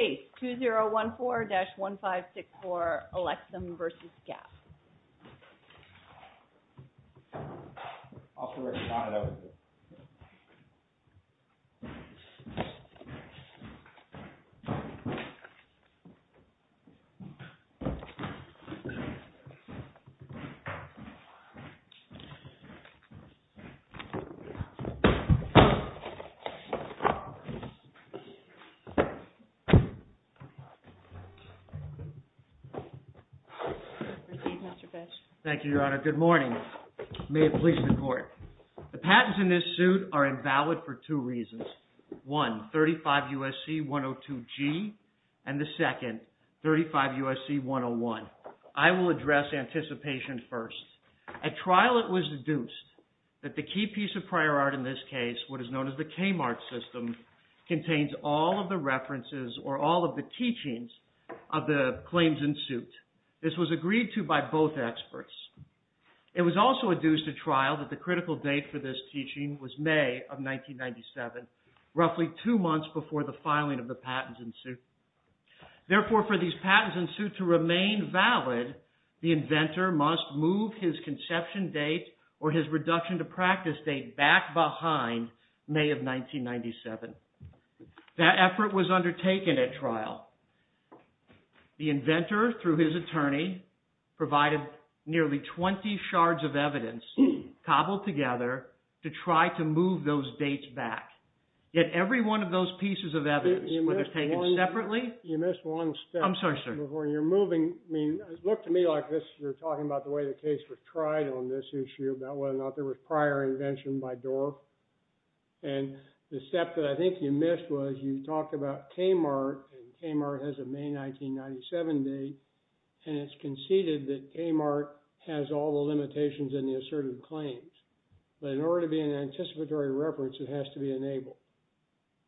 2014-1564 Alexam v. Gap Thank you, Your Honor. Good morning. May it please the Court. The patents in this suit are invalid for two reasons. One, 35 U.S.C. 102G, and the second, 35 U.S.C. 101. I will address anticipation first. At trial, it was deduced that the key piece of prior art in this case, what is known as the Kmart system, contains all of the references or all of the teachings of the claims in suit. This was agreed to by both experts. It was also deduced at trial that the critical date for this teaching was May of 1997, roughly two months before the filing of the patents in suit. Therefore, for these patents in suit to remain valid, the inventor must move his conception date or his reduction to practice date back behind May of 1997. That effort was undertaken at trial. The inventor, through his attorney, provided nearly 20 shards of evidence, cobbled together, to try to move those dates back. Yet, every one of those pieces of evidence, whether taken separately, I'm sorry, sir. You're moving, I mean, look to me like this. You're talking about the way the case was tried on this issue, about whether or not there was prior invention by Dorff. And the step that I think you missed was you talked about Kmart, and Kmart has a May 1997 date, and it's conceded that Kmart has all the limitations and the assertive claims. But in order to be an anticipatory reference, it has to be enabled,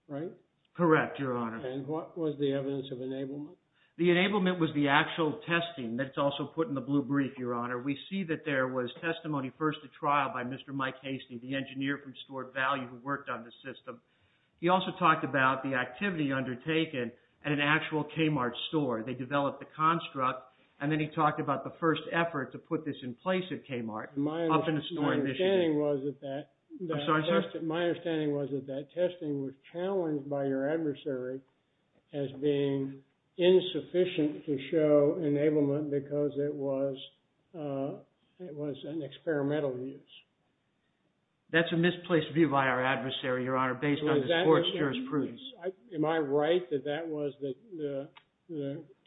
right? Correct, Your Honor. And what was the evidence of enablement? The enablement was the actual testing that's also put in the blue brief, Your Honor. We see that there was testimony first at trial by Mr. Mike Hastie, the engineer from Stuart Value who worked on this system. He also talked about the activity undertaken at an actual Kmart store. They developed the construct, and then he talked about the first effort to put this in place at Kmart, up in the store in Michigan. My understanding was that that testing was challenged by your adversary as being in the insufficient to show enablement because it was an experimental use. That's a misplaced view by our adversary, Your Honor, based on the court's jurisprudence. Am I right that that was the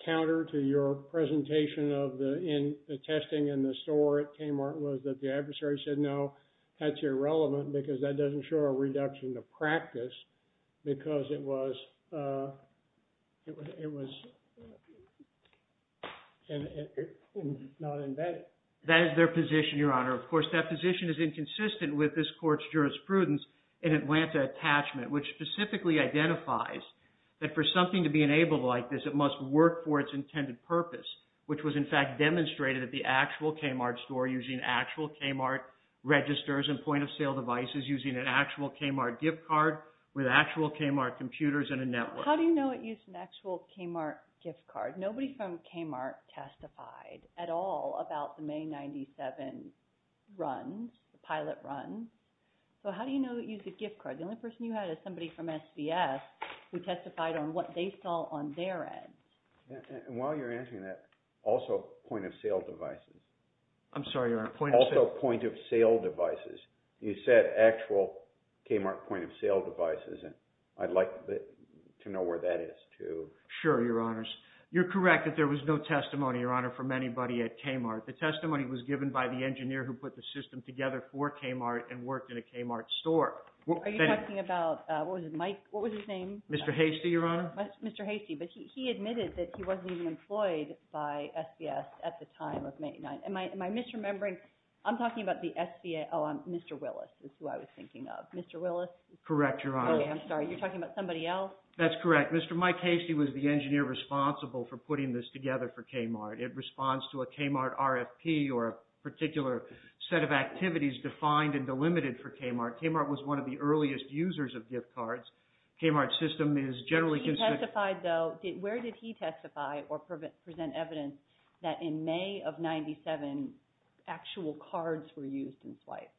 counter to your presentation of the testing in the store at Kmart was that the adversary said, no, that's irrelevant because that doesn't show a reduction to practice because it was not embedded? That is their position, Your Honor. Of course, that position is inconsistent with this court's jurisprudence in Atlanta Attachment, which specifically identifies that for something to be enabled like this, it must work for its intended purpose, which was, in fact, demonstrated at the actual Kmart store using actual Kmart registers and point-of-sale devices using an actual Kmart gift card with actual Kmart computers and a network. How do you know it used an actual Kmart gift card? Nobody from Kmart testified at all about the May 97 runs, the pilot runs. So how do you know it used a gift card? The only person you had is somebody from SBS who testified on what they saw on their end. And while you're answering that, also point-of-sale devices. I'm sorry, Your Honor. Also point-of-sale devices. You said actual Kmart point-of-sale devices, and I'd like to know where that is too. Sure, Your Honors. You're correct that there was no testimony, Your Honor, from anybody at Kmart. The testimony was given by the engineer who put the system together for Kmart and worked in a Kmart store. Are you talking about, what was his name? Mr. Hastie, Your Honor. Mr. Hastie, but he admitted that he wasn't even employed by SBS at the time of May 9. Am I misremembering? I'm talking about the SBA. Oh, Mr. Willis is who I was thinking of. Mr. Willis? Correct, Your Honor. Okay, I'm sorry. You're talking about somebody else? That's correct. Mr. Mike Hastie was the engineer responsible for putting this together for Kmart. It responds to a Kmart RFP or a particular set of activities defined and delimited for Kmart. Kmart was one of the earliest users of gift cards. Kmart's system is generally consistent. Where did he testify or present evidence that in May of 1997, actual cards were used and swiped?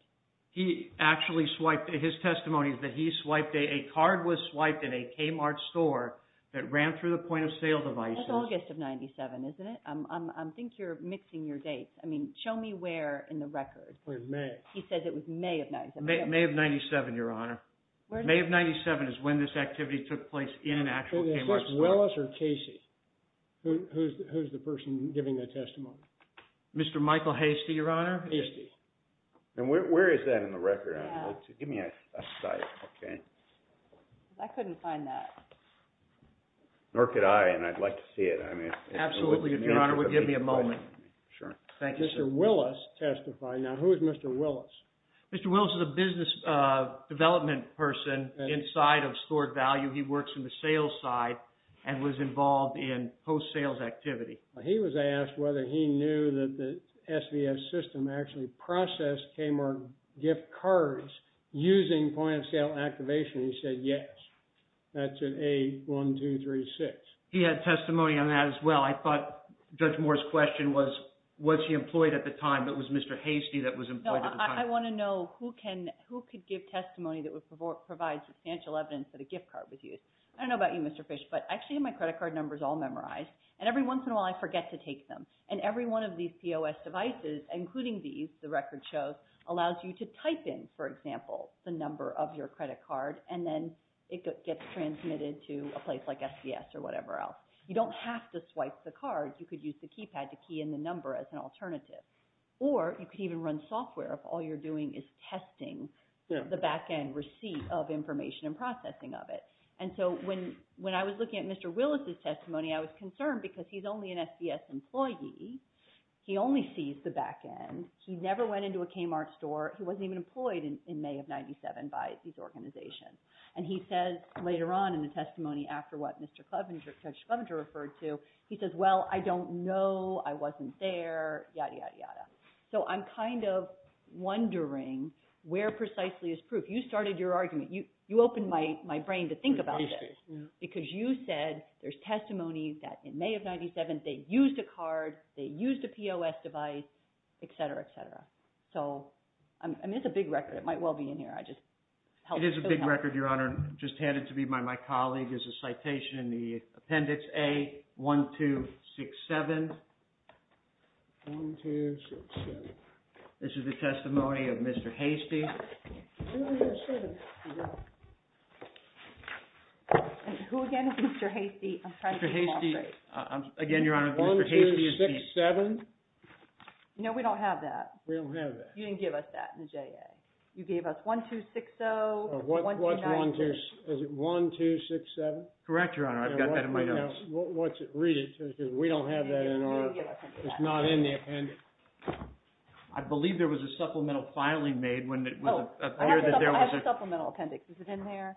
His testimony is that he swiped a card that was swiped in a Kmart store that ran through the point-of-sale devices. That's August of 1997, isn't it? I think you're mixing your dates. I mean, show me where in the record. It was May. He said it was May of 1997. May of 1997, Your Honor. May of 1997 is when this activity took place in an actual Kmart store. Is this Willis or Casey? Who's the person giving the testimony? Mr. Michael Hastie, Your Honor. Hastie. And where is that in the record? Give me a sight, okay? I couldn't find that. Nor could I, and I'd like to see it. Absolutely, Your Honor. Would you give me a moment? Sure. Thank you, sir. Mr. Willis testified. Now, who is Mr. Willis? Mr. Willis is a business development person inside of Stored Value. He works in the sales side and was involved in post-sales activity. He was asked whether he knew that the SVS system actually processed Kmart gift cards using point-of-sale activation. He said yes. That's in A1236. He had testimony on that as well. I thought Judge Moore's question was, was he employed at the time, but it was Mr. Hastie that was employed at the time. I want to know who could give testimony that would provide substantial evidence that a gift card was used. I don't know about you, Mr. Fish, but I actually have my credit card numbers all memorized, and every once in a while I forget to take them. And every one of these POS devices, including these, the record shows, allows you to type in, for example, the number of your credit card, and then it gets transmitted to a place like SVS or whatever else. You don't have to swipe the card. You could use the keypad to key in the number as an alternative. Or you could even run software if all you're doing is testing the back-end receipt of information and processing of it. And so when I was looking at Mr. Willis's testimony, I was concerned because he's only an SVS employee. He only sees the back-end. He never went into a Kmart store. He wasn't even employed in May of 97 by these organizations. And he says later on in the testimony, after what Judge Clevenger referred to, he says, well, I don't know, I wasn't there, yada, yada, yada. So I'm kind of wondering where precisely is proof. You started your argument. You opened my brain to think about this because you said there's testimony that in May of 97 they used a card, they used a POS device, et cetera, et cetera. So it's a big record. It might well be in here. I just hope so. It is a big record, Your Honor. Just handed to me by my colleague is a citation in the Appendix A1267. This is the testimony of Mr. Hastie. Who again is Mr. Hastie? Mr. Hastie. Again, Your Honor, Mr. Hastie is the. 1267? No, we don't have that. We don't have that. You didn't give us that in the JA. You gave us 1260, 1290. Is it 1267? Correct, Your Honor. I've got that in my notes. Read it because we don't have that in our. It's not in the appendix. I believe there was a supplemental filing made when it was. Oh, I have a supplemental appendix. Is it in there?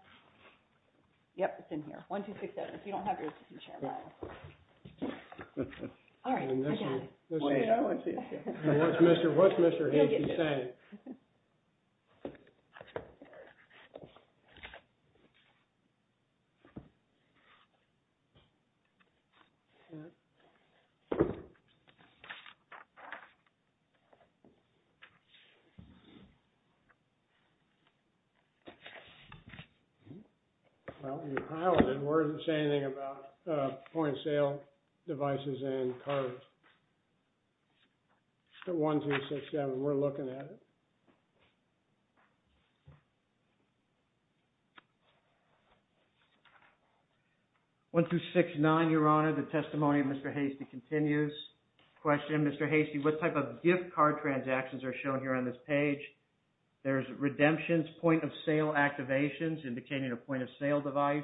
Yep, it's in here. 1267. If you don't have yours, you can share mine. All right, I got it. What's Mr. Hastie saying? Well, you've highlighted it. It doesn't say anything about point-of-sale devices and cards. But 1267, we're looking at it. 1269, Your Honor, the testimony of Mr. Hastie continues. Question, Mr. Hastie, what type of gift card transactions are shown here on this page? There's redemptions, point-of-sale activations, indicating a point-of-sale device.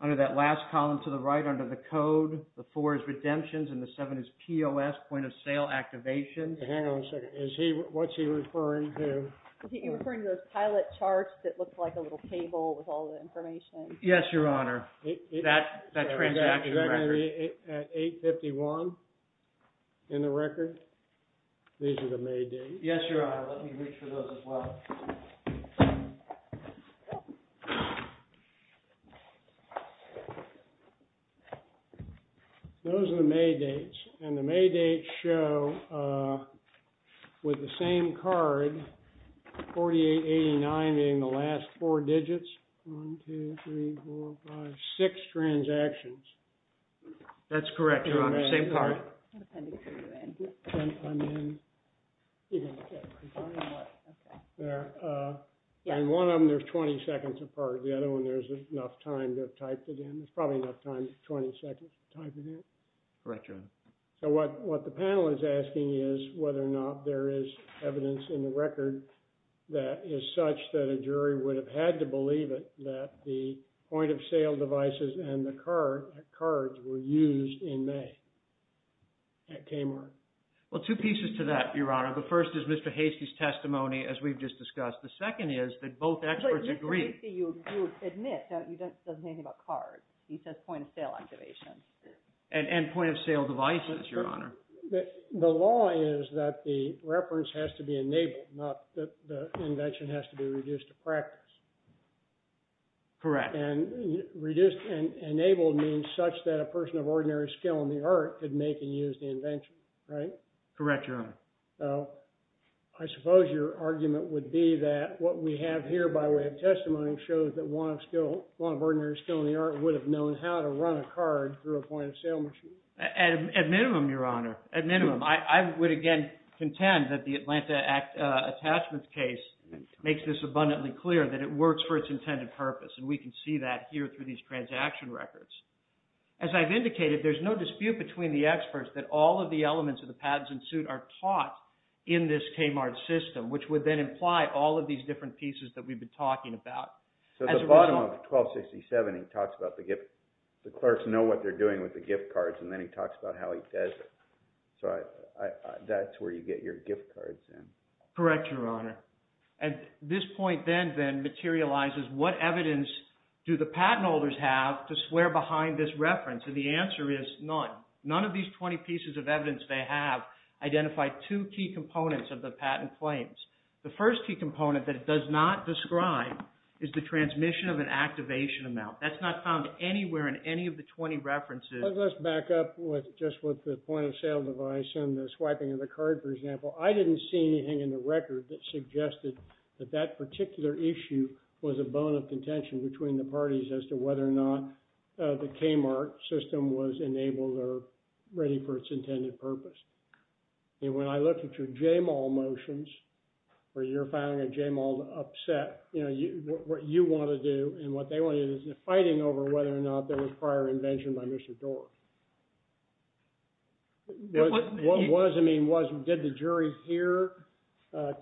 Under that last column to the right under the code, the four is redemptions and the seven is POS, point-of-sale activations. Hang on a second. What's he referring to? Is he referring to those pilot charts that look like a little table with all the information? Yes, Your Honor. That transaction record. Is that going to be at 851 in the record? These are the May dates. Yes, Your Honor. Let me reach for those as well. Those are the May dates. And the May dates show, with the same card, 4889 being the last four digits. One, two, three, four, five, six transactions. That's correct, Your Honor. Same card. What appendix are you in? I'm in. Okay. Okay. And one of them, there's 20 seconds apart. The other one, there's enough time to type it in. There's probably enough time, 20 seconds to type it in. Correct, Your Honor. So what the panel is asking is whether or not there is evidence in the record that is such that a jury would have had to believe it that the point-of-sale devices and the cards were used in May at Kmart. Well, two pieces to that, Your Honor. The first is Mr. Hastie's testimony, as we've just discussed. The second is that both experts agree. Mr. Hastie, you admit that he doesn't know anything about cards. He says point-of-sale activation. And point-of-sale devices, Your Honor. The law is that the reference has to be enabled, not that the invention has to be reduced to practice. Correct. And reduced and enabled means such that a person of ordinary skill in the art could make and use the invention, right? Correct, Your Honor. I suppose your argument would be that what we have here by way of testimony shows that one of ordinary skill in the art would have known how to run a card through a point-of-sale machine. At minimum, Your Honor. At minimum. I would, again, contend that the Atlanta Attachments case makes this abundantly clear that it works for its intended purpose, and we can see that here through these transaction records. As I've indicated, there's no dispute between the experts that all of the elements of the patents in suit are taught in this Kmart system, which would then imply all of these different pieces that we've been talking about. So at the bottom of 1267, he talks about the gift. The clerks know what they're doing with the gift cards, and then he talks about how he does it. So that's where you get your gift cards in. Correct, Your Honor. And this point then materializes what evidence do the patent holders have to swear behind this reference? And the answer is none. None of these 20 pieces of evidence they have identify two key components of the patent claims. The first key component that it does not describe is the transmission of an activation amount. That's not found anywhere in any of the 20 references. Let's back up just with the point-of-sale device and the swiping of the card, for example. I didn't see anything in the record that suggested that that particular issue was a bone of contention between the parties as to whether or not the Kmart system was enabled or ready for its intended purpose. When I looked at your J-Mall motions, where you're filing a J-Mall upset, what you want to do and what they want to do is fighting over whether or not there was prior invention by Mr. Dorff. What does it mean? Did the jury hear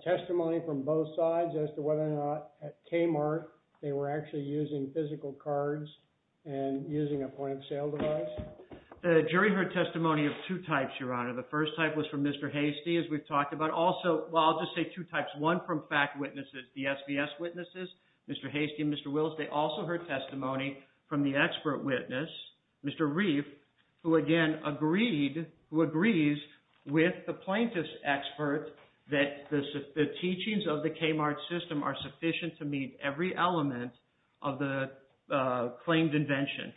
testimony from both sides as to whether or not at Kmart they were actually using physical cards and using a point-of-sale device? The jury heard testimony of two types, Your Honor. The first type was from Mr. Hastie, as we've talked about. Also, well, I'll just say two types. One from fact witnesses, the SBS witnesses, Mr. Hastie and Mr. Wills. They also heard testimony from the expert witness, Mr. Reif, who, again, agreed, who agrees with the plaintiff's expert that the teachings of the Kmart system are sufficient to meet every element of the claimed invention.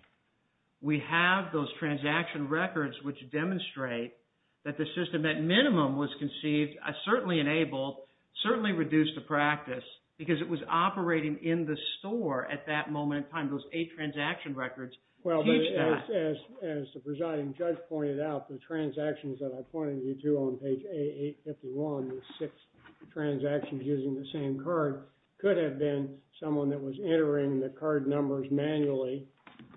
We have those transaction records which demonstrate that the system, at minimum, was conceived, certainly enabled, certainly reduced to practice because it was operating in the store at that moment in time. Those eight transaction records teach that. As the presiding judge pointed out, the transactions that I pointed you to on page A851, the six transactions using the same card, could have been someone that was entering the card numbers manually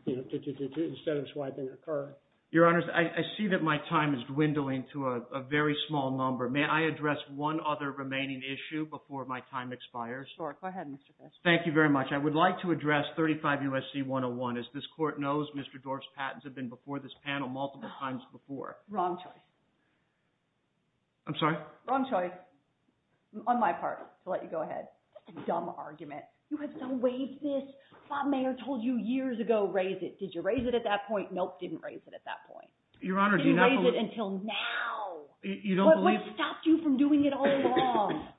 instead of swiping a card. Your Honors, I see that my time is dwindling to a very small number. May I address one other remaining issue before my time expires? Sure. Go ahead, Mr. Kessler. Thank you very much. I would like to address 35 U.S.C. 101. As this Court knows, Mr. Dorff's patents have been before this panel multiple times before. Wrong choice. I'm sorry? Wrong choice, on my part, to let you go ahead. That's a dumb argument. You have so waived this. Bob Mayer told you years ago, raise it. Did you raise it at that point? Nope, didn't raise it at that point. Your Honor, do you not believe— You raised it until now. You don't believe— What stopped you from doing it all along?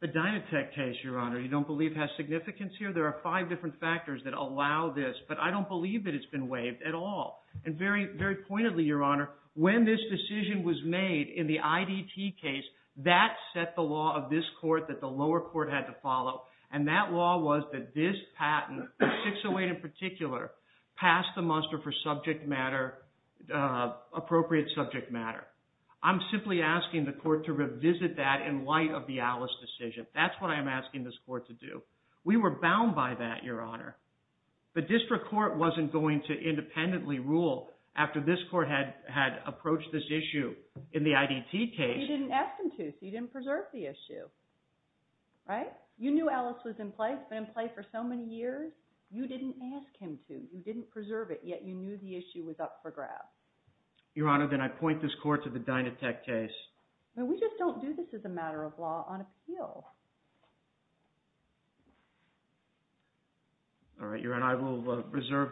The Dynatech case, Your Honor, you don't believe has significance here? There are five different factors that allow this, but I don't believe that it's been waived at all. And very pointedly, Your Honor, when this decision was made in the IDT case, that set the law of this Court that the lower court had to follow, and that law was that this patent, the 608 in particular, passed the muster for appropriate subject matter. I'm simply asking the Court to revisit that in light of the Alice decision. That's what I'm asking this Court to do. We were bound by that, Your Honor. But District Court wasn't going to independently rule after this Court had approached this issue in the IDT case. But you didn't ask them to, so you didn't preserve the issue, right? You knew Alice was in play. It's been in play for so many years. You didn't ask him to. You didn't preserve it, yet you knew the issue was up for grab. Your Honor, then I point this Court to the Dynatech case. We just don't do this as a matter of law on appeal. All right, Your Honor. I will reserve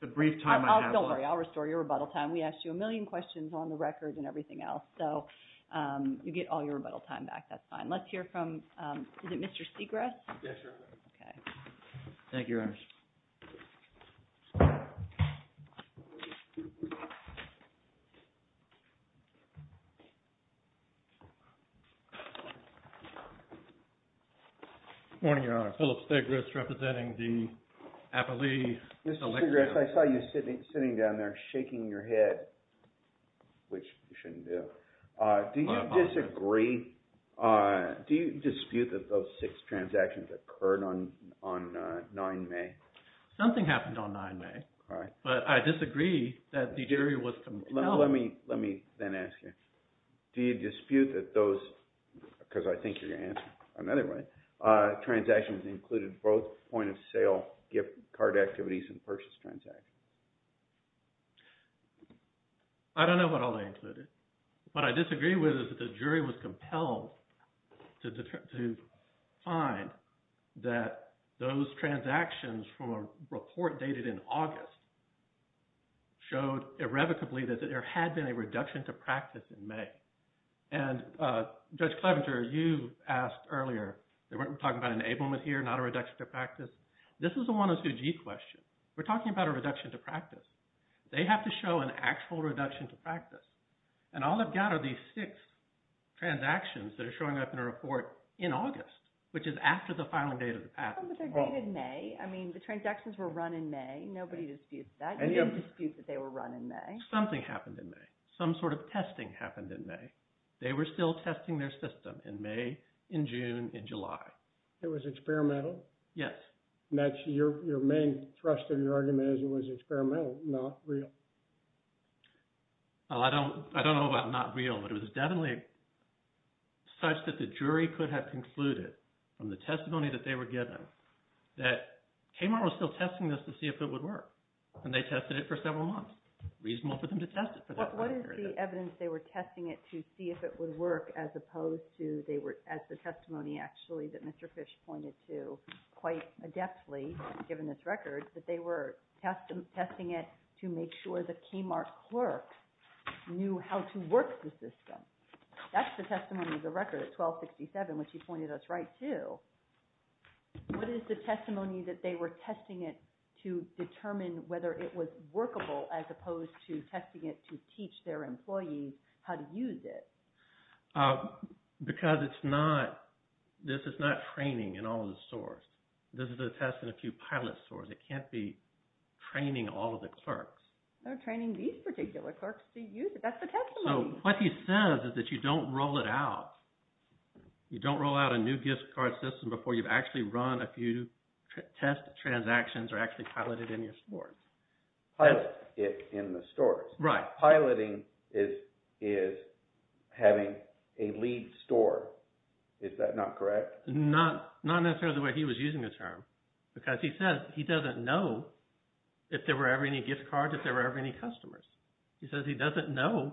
the brief time I have left. Don't worry. I'll restore your rebuttal time. We asked you a million questions on the record and everything else, so you get all your rebuttal time back. That's fine. Let's hear from – is it Mr. Segress? Yes, Your Honor. Okay. Thank you, Your Honor. Good morning, Your Honor. Philip Segress representing the appellee. Mr. Segress, I saw you sitting down there shaking your head, which you shouldn't do. Do you disagree? Do you dispute that those six transactions occurred on 9 May? Something happened on 9 May. All right. But I disagree that the jury was compelled. Let me then ask you. Do you dispute that those – because I think you're going to answer another way – transactions included both point-of-sale gift card activities and purchase transactions? I don't know what all they included. What I disagree with is that the jury was compelled to find that those transactions from a report dated in August showed irrevocably that there had been a reduction to practice in May. And Judge Clevenger, you asked earlier – we're talking about an enablement here, not a reduction to practice. This is a 102G question. We're talking about a reduction to practice. They have to show an actual reduction to practice. And all I've got are these six transactions that are showing up in a report in August, which is after the filing date of the patent. I mean, the transactions were run in May. Nobody disputes that. You don't dispute that they were run in May. Something happened in May. Some sort of testing happened in May. They were still testing their system in May, in June, in July. It was experimental? Yes. And that's your main thrust of your argument is it was experimental, not real? I don't know about not real, but it was definitely such that the jury could have concluded from the testimony that they were given that Kmart was still testing this to see if it would work. And they tested it for several months. Reasonable for them to test it for that long period of time. What is the evidence they were testing it to see if it would work as opposed to – as the testimony actually that Mr. Fish pointed to quite adeptly, given this record, that they were testing it to make sure the Kmart clerk knew how to work the system? That's the testimony of the record at 1267, which he pointed us right to. What is the testimony that they were testing it to determine whether it was workable as opposed to testing it to teach their employees how to use it? Because it's not – this is not training in all of the stores. This is a test in a few pilot stores. It can't be training all of the clerks. They're training these particular clerks to use it. That's the testimony. So what he says is that you don't roll it out. You don't roll out a new gift card system before you've actually run a few test transactions or actually piloted it in your stores. Pilot it in the stores. Right. Piloting is having a lead store. Is that not correct? Not necessarily the way he was using the term. Because he says he doesn't know if there were ever any gift cards, if there were ever any customers. He says he doesn't know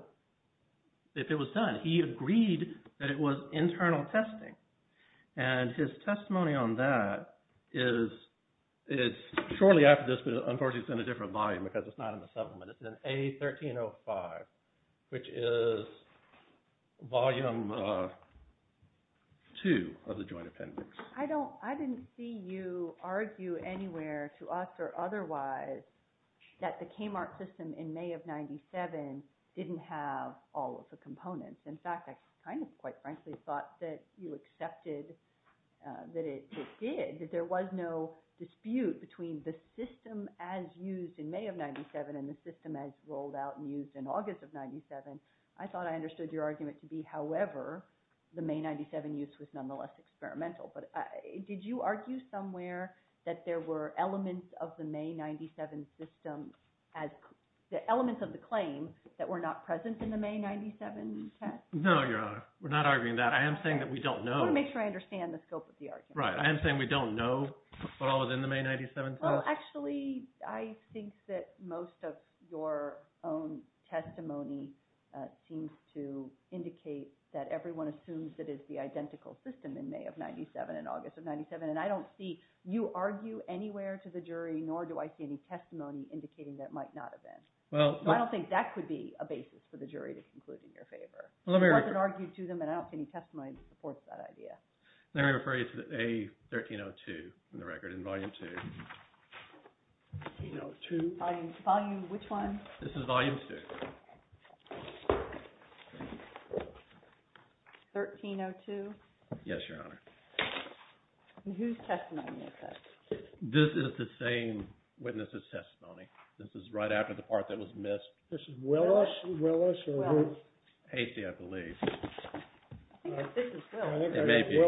if it was done. He agreed that it was internal testing. And his testimony on that is – it's shortly after this, but unfortunately it's in a different volume because it's not in the supplement. It's in A1305, which is volume two of the joint appendix. I didn't see you argue anywhere to us or otherwise that the Kmart system in May of 1997 didn't have all of the components. In fact, I kind of quite frankly thought that you accepted that it did, that there was no dispute between the system as used in May of 1997 and the system as rolled out and used in August of 1997. I thought I understood your argument to be, however, the May 1997 use was nonetheless experimental. But did you argue somewhere that there were elements of the May 1997 system – the elements of the claim that were not present in the May 1997 test? No, Your Honor. We're not arguing that. I am saying that we don't know. I want to make sure I understand the scope of the argument. Right. I am saying we don't know what all was in the May 1997 test. Actually, I think that most of your own testimony seems to indicate that everyone assumes that it's the identical system in May of 1997 and August of 1997. And I don't see you argue anywhere to the jury, nor do I see any testimony indicating that it might not have been. I don't think that could be a basis for the jury to conclude in your favor. It wasn't argued to them, and I don't see any testimony that supports that idea. Let me refer you to A1302 in the record, in Volume 2. 1302? Volume which one? This is Volume 2. 1302? Yes, Your Honor. And whose testimony is this? This is the same witness's testimony. This is right after the part that was missed. This is Willis? Willis? Willis. Hastie, I believe. I think this is Willis. It may be.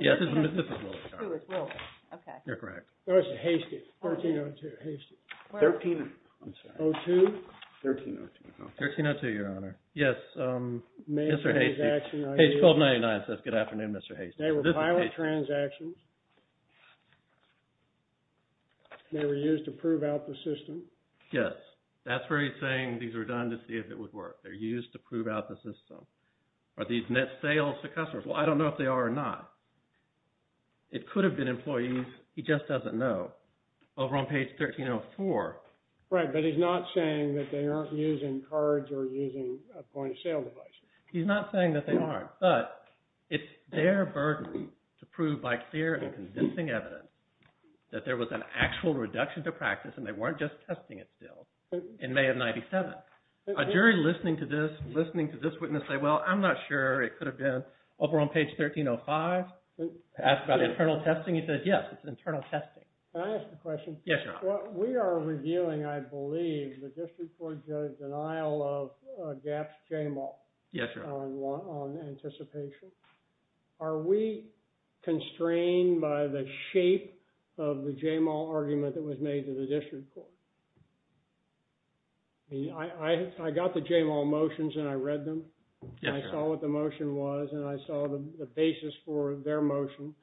Yes, this is Willis. Oh, it's Willis. Okay. You're correct. No, this is Hastie. 1302, Hastie. 1302. 1302? 1302. 1302, Your Honor. Yes, Mr. Hastie. Page 1299 says, Good afternoon, Mr. Hastie. They were pilot transactions. They were used to prove out the system. Yes. That's where he's saying these were done to see if it would work. They're used to prove out the system. Are these net sales to customers? Well, I don't know if they are or not. It could have been employees. He just doesn't know. Over on page 1304. Right, but he's not saying that they aren't using cards or using a point of sale device. He's not saying that they aren't. But it's their burden to prove by clear and convincing evidence that there was an actual reduction to practice, and they weren't just testing it still, in May of 97. A jury listening to this, listening to this witness say, Well, I'm not sure. It could have been. Over on page 1305. Asked about internal testing. He said, Yes, it's internal testing. Can I ask a question? Yes, Your Honor. We are reviewing, I believe, the district court judge's denial of GAP's JAMAL. Yes, Your Honor. On anticipation. Are we constrained by the shape of the JAMAL argument that was made to the district court? I got the JAMAL motions, and I read them. Yes, Your Honor. I saw what the motion was, and I saw the basis for their motion.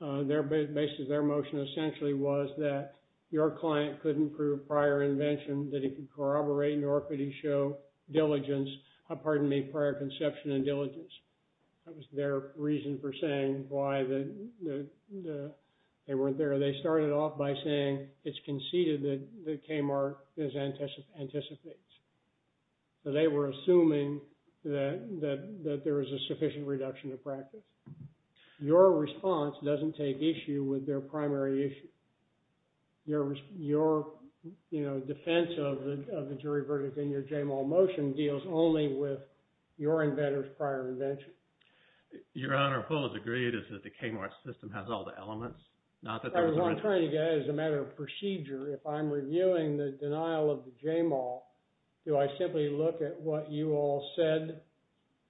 The basis of their motion essentially was that your client couldn't prove prior invention, that he could corroborate, nor could he show diligence, pardon me, prior conception and diligence. That was their reason for saying why they weren't there. They started off by saying it's conceded that KMAR anticipates. They were assuming that there was a sufficient reduction of practice. Your response doesn't take issue with their primary issue. Your defense of the jury verdict in your JAMAL motion deals only with your inventor's prior invention. Your Honor, Paul has agreed that the KMAR system has all the elements. As a matter of procedure, if I'm reviewing the denial of the JAMAL, do I simply look at what you all said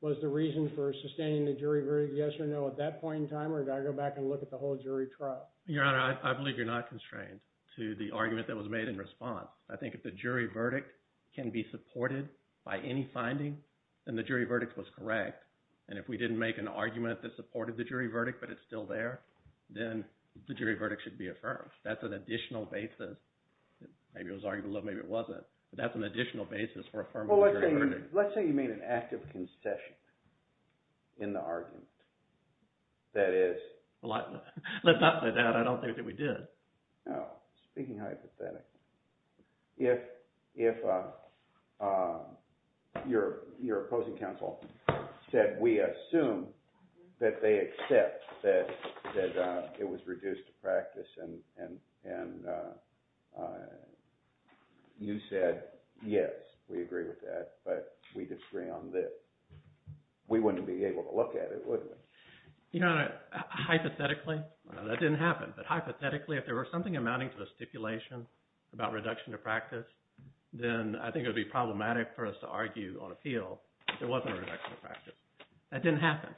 was the reason for sustaining the jury verdict yes or no at that point in time, or do I go back and look at the whole jury trial? Your Honor, I believe you're not constrained to the argument that was made in response. I think if the jury verdict can be supported by any finding, then the jury verdict was correct. And if we didn't make an argument that supported the jury verdict, but it's still there, then the jury verdict should be affirmed. That's an additional basis. Maybe it was argued a little. Maybe it wasn't. But that's an additional basis for affirming the jury verdict. Well, let's say you made an active concession in the argument. That is – Let's not say that. I don't think that we did. Speaking hypothetically, if your opposing counsel said we assume that they accept that it was reduced to practice, and you said yes, we agree with that, but we disagree on this, we wouldn't be able to look at it, would we? Your Honor, hypothetically, that didn't happen. But hypothetically, if there was something amounting to a stipulation about reduction to practice, then I think it would be problematic for us to argue on appeal if there wasn't a reduction to practice. That didn't happen.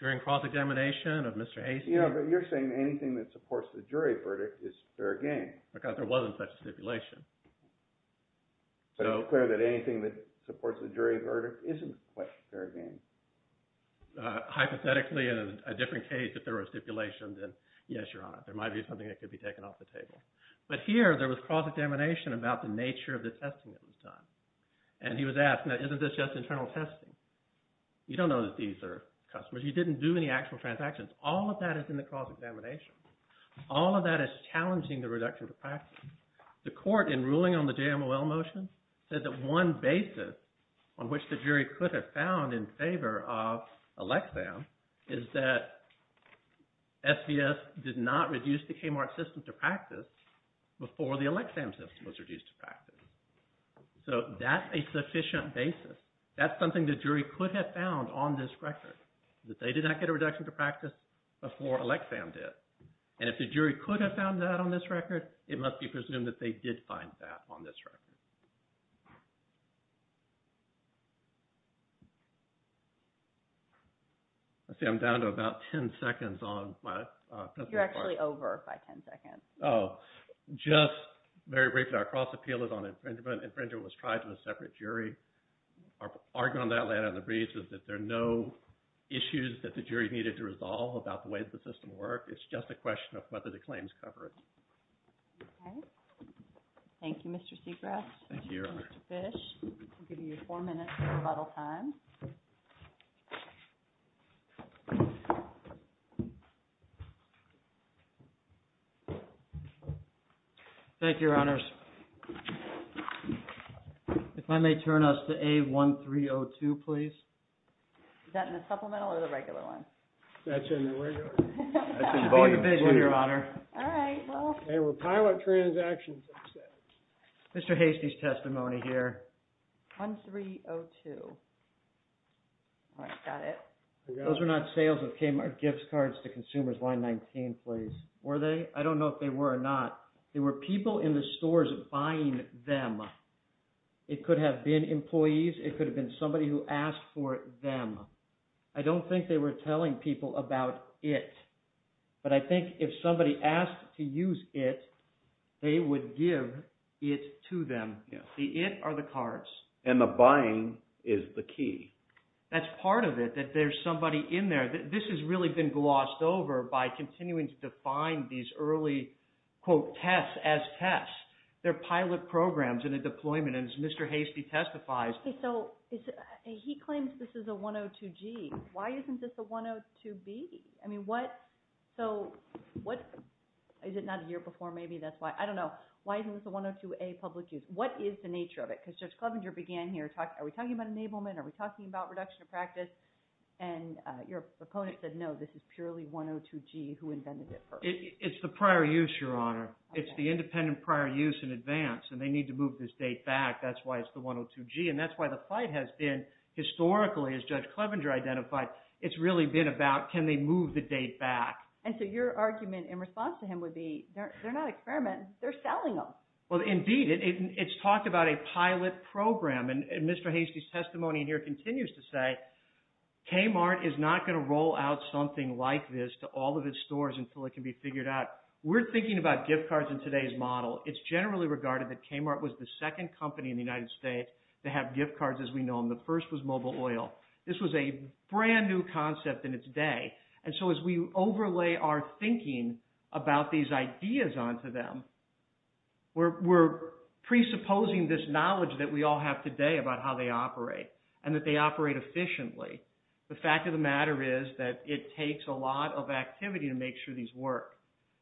During cross-examination of Mr. Hastings – But you're saying anything that supports the jury verdict is fair game. Because there wasn't such a stipulation. So it's clear that anything that supports the jury verdict isn't quite fair game. Hypothetically, in a different case, if there was stipulation, then yes, Your Honor, there might be something that could be taken off the table. But here, there was cross-examination about the nature of the testing that was done. And he was asked, now isn't this just internal testing? You don't know that these are customers. You didn't do any actual transactions. All of that is in the cross-examination. All of that is challenging the reduction to practice. The court, in ruling on the JMOL motion, said that one basis on which the jury could have found in favor of Elexam is that SVS did not reduce the Kmart system to practice before the Elexam system was reduced to practice. So that's a sufficient basis. That's something the jury could have found on this record, that they did not get a reduction to practice before Elexam did. And if the jury could have found that on this record, it must be presumed that they did find that on this record. Let's see, I'm down to about 10 seconds on my testimony. You're actually over by 10 seconds. Oh, just very briefly, our cross-appeal is on infringement. Infringement was tried to a separate jury. Our argument on that later in the brief is that there are no issues that the jury needed to resolve about the way the system worked. It's just a question of whether the claims cover it. Thank you, Mr. Segrest. Thank you, Your Honor. Mr. Fish, I'll give you four minutes for rebuttal time. Thank you, Your Honors. If I may turn us to A1302, please. Is that in the supplemental or the regular one? That's in the regular. That's in Volume 2, Your Honor. All right, well. Okay, we're pilot transactions. Mr. Hastie's testimony here. 1302. All right, got it. Those were not sales of Kmart gift cards to consumers. Line 19, please. Were they? I don't know if they were or not. They were people in the stores buying them. It could have been employees. It could have been somebody who asked for them. I don't think they were telling people about it. But I think if somebody asked to use it, they would give it to them. The it are the cards. And the buying is the key. That's part of it, that there's somebody in there. This has really been glossed over by continuing to define these early, quote, tests as tests. They're pilot programs in a deployment. And as Mr. Hastie testifies. Okay, so he claims this is a 102G. Why isn't this a 102B? I mean, what, so what, is it not a year before? Maybe that's why. I don't know. Why isn't this a 102A public use? What is the nature of it? Because Judge Clevenger began here. Are we talking about enablement? Are we talking about reduction of practice? And your proponent said, no, this is purely 102G who invented it first. It's the prior use, Your Honor. It's the independent prior use in advance. And they need to move this date back. That's why it's the 102G. And that's why the fight has been, historically, as Judge Clevenger identified, it's really been about, can they move the date back? And so your argument in response to him would be, they're not experimenting. They're selling them. Well, indeed. It's talked about a pilot program. And Mr. Hastie's testimony here continues to say, Kmart is not going to roll out something like this to all of its stores until it can be figured out. We're thinking about gift cards in today's model. It's generally regarded that Kmart was the second company in the United States to have gift cards as we know them. The first was mobile oil. This was a brand-new concept in its day. And so as we overlay our thinking about these ideas onto them, we're presupposing this knowledge that we all have today about how they operate and that they operate efficiently. The fact of the matter is that it takes a lot of activity to make sure these work.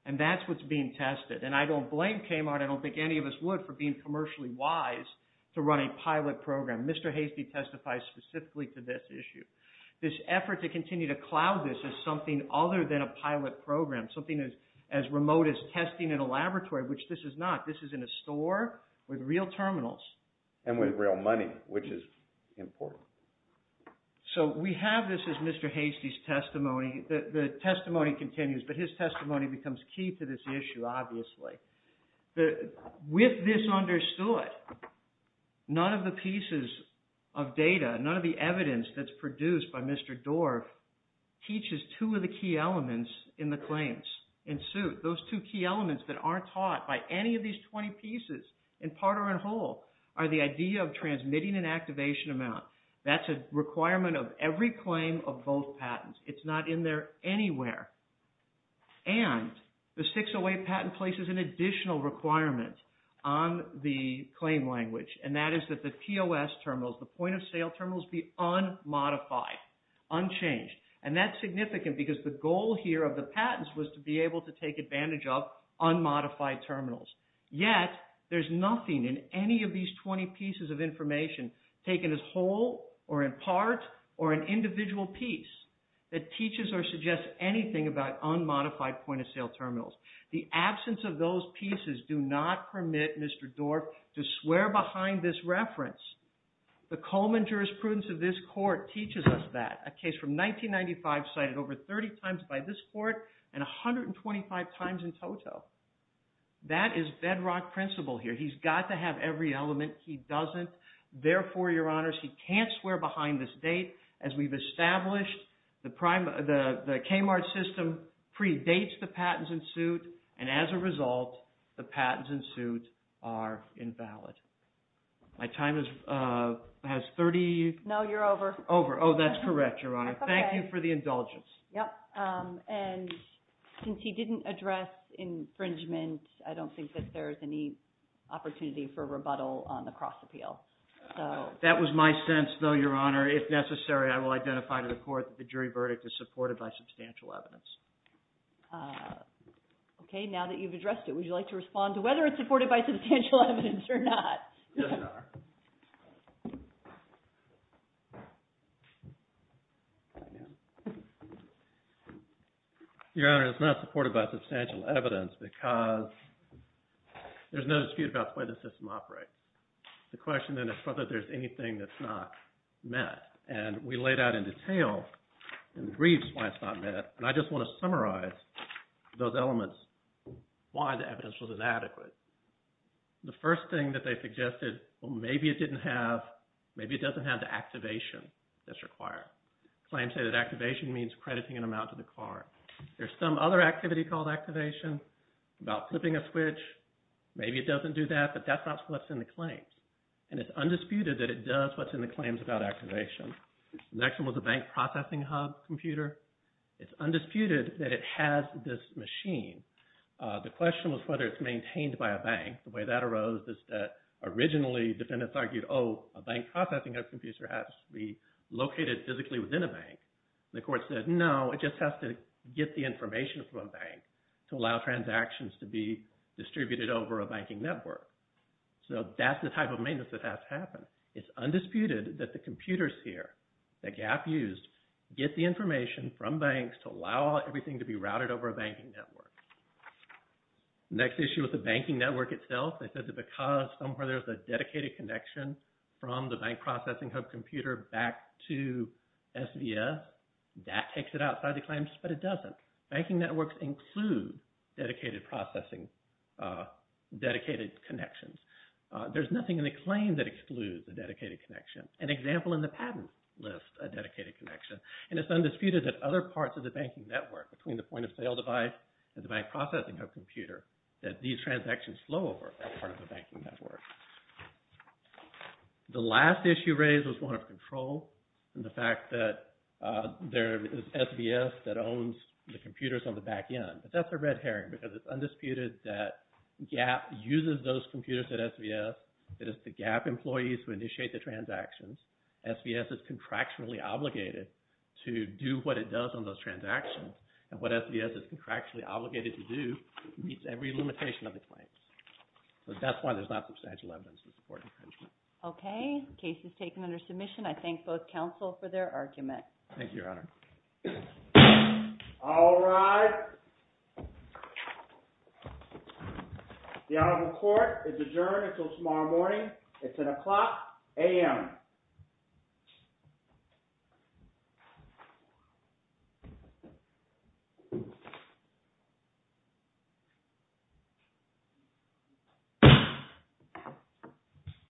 And that's what's being tested. And I don't blame Kmart, I don't think any of us would, for being commercially wise to run a pilot program. Mr. Hastie testifies specifically to this issue. This effort to continue to cloud this as something other than a pilot program, something as remote as testing in a laboratory, which this is not. This is in a store with real terminals. And with real money, which is important. So we have this as Mr. Hastie's testimony. The testimony continues, but his testimony becomes key to this issue, obviously. With this understood, none of the pieces of data, none of the evidence that's produced by Mr. Dorff, teaches two of the key elements in the claims in suit. Those two key elements that aren't taught by any of these 20 pieces, in part or in whole, are the idea of transmitting and activation amount. That's a requirement of every claim of both patents. It's not in there anywhere. And the 608 patent places an additional requirement on the claim language. And that is that the POS terminals, the point of sale terminals, be unmodified, unchanged. And that's significant because the goal here of the patents was to be able to take advantage of unmodified terminals. Yet, there's nothing in any of these 20 pieces of information, taken as whole, or in part, or an individual piece, that teaches or suggests anything about unmodified point of sale terminals. The absence of those pieces do not permit Mr. Dorff to swear behind this reference. The Coleman jurisprudence of this court teaches us that. A case from 1995 cited over 30 times by this court, and 125 times in total. That is bedrock principle here. He's got to have every element. He doesn't. Therefore, Your Honors, he can't swear behind this date. As we've established, the Kmart system predates the patents in suit. And as a result, the patents in suit are invalid. My time has 30... No, you're over. Over. Oh, that's correct, Your Honor. Thank you for the indulgence. Yep, and since he didn't address infringement, I don't think that there's any opportunity for rebuttal on the cross appeal. That was my sense, though, Your Honor. If necessary, I will identify to the court that the jury verdict is supported by substantial evidence. Okay, now that you've addressed it, would you like to respond to whether it's supported by substantial evidence or not? Yes, Your Honor. Your Honor, it's not supported by substantial evidence because there's no dispute about the way the system operates. The question then is whether there's anything that's not met. And we laid out in detail in the briefs why it's not met, and I just want to summarize those elements, why the evidence was inadequate. The first thing that they suggested, well, maybe it doesn't have the activation that's required. Claims say that activation means crediting an amount to the card. There's some other activity called activation about flipping a switch. Maybe it doesn't do that, but that's not what's in the claims. And it's undisputed that it does what's in the claims about activation. The next one was a bank processing hub computer. It's undisputed that it has this machine. The question was whether it's maintained by a bank. The way that arose is that originally defendants argued, oh, a bank processing hub computer has to be located physically within a bank. The court said, no, it just has to get the information from a bank to allow transactions to be distributed over a banking network. So that's the type of maintenance that has to happen. It's undisputed that the computers here that GAP used get the information from banks to allow everything to be routed over a banking network. Next issue with the banking network itself, they said that because somewhere there's a dedicated connection from the bank processing hub computer back to SVS, that takes it outside the claims, but it doesn't. Banking networks include dedicated processing, dedicated connections. There's nothing in the claim that excludes a dedicated connection. An example in the patent list, a dedicated connection. And it's undisputed that other parts of the banking network, between the point of sale device and the bank processing hub computer, that these transactions flow over as part of the banking network. The last issue raised was one of control and the fact that there is SVS that owns the computers on the back end. But that's a red herring because it's undisputed that GAP uses those computers at SVS. It is the GAP employees who initiate the transactions. SVS is contractually obligated to do what it does on those transactions. And what SVS is contractually obligated to do meets every limitation of the claims. So that's why there's not substantial evidence to support infringement. Okay, case is taken under submission. Thank you, Your Honor. All rise. The Honorable Court is adjourned until tomorrow morning at 10 o'clock a.m.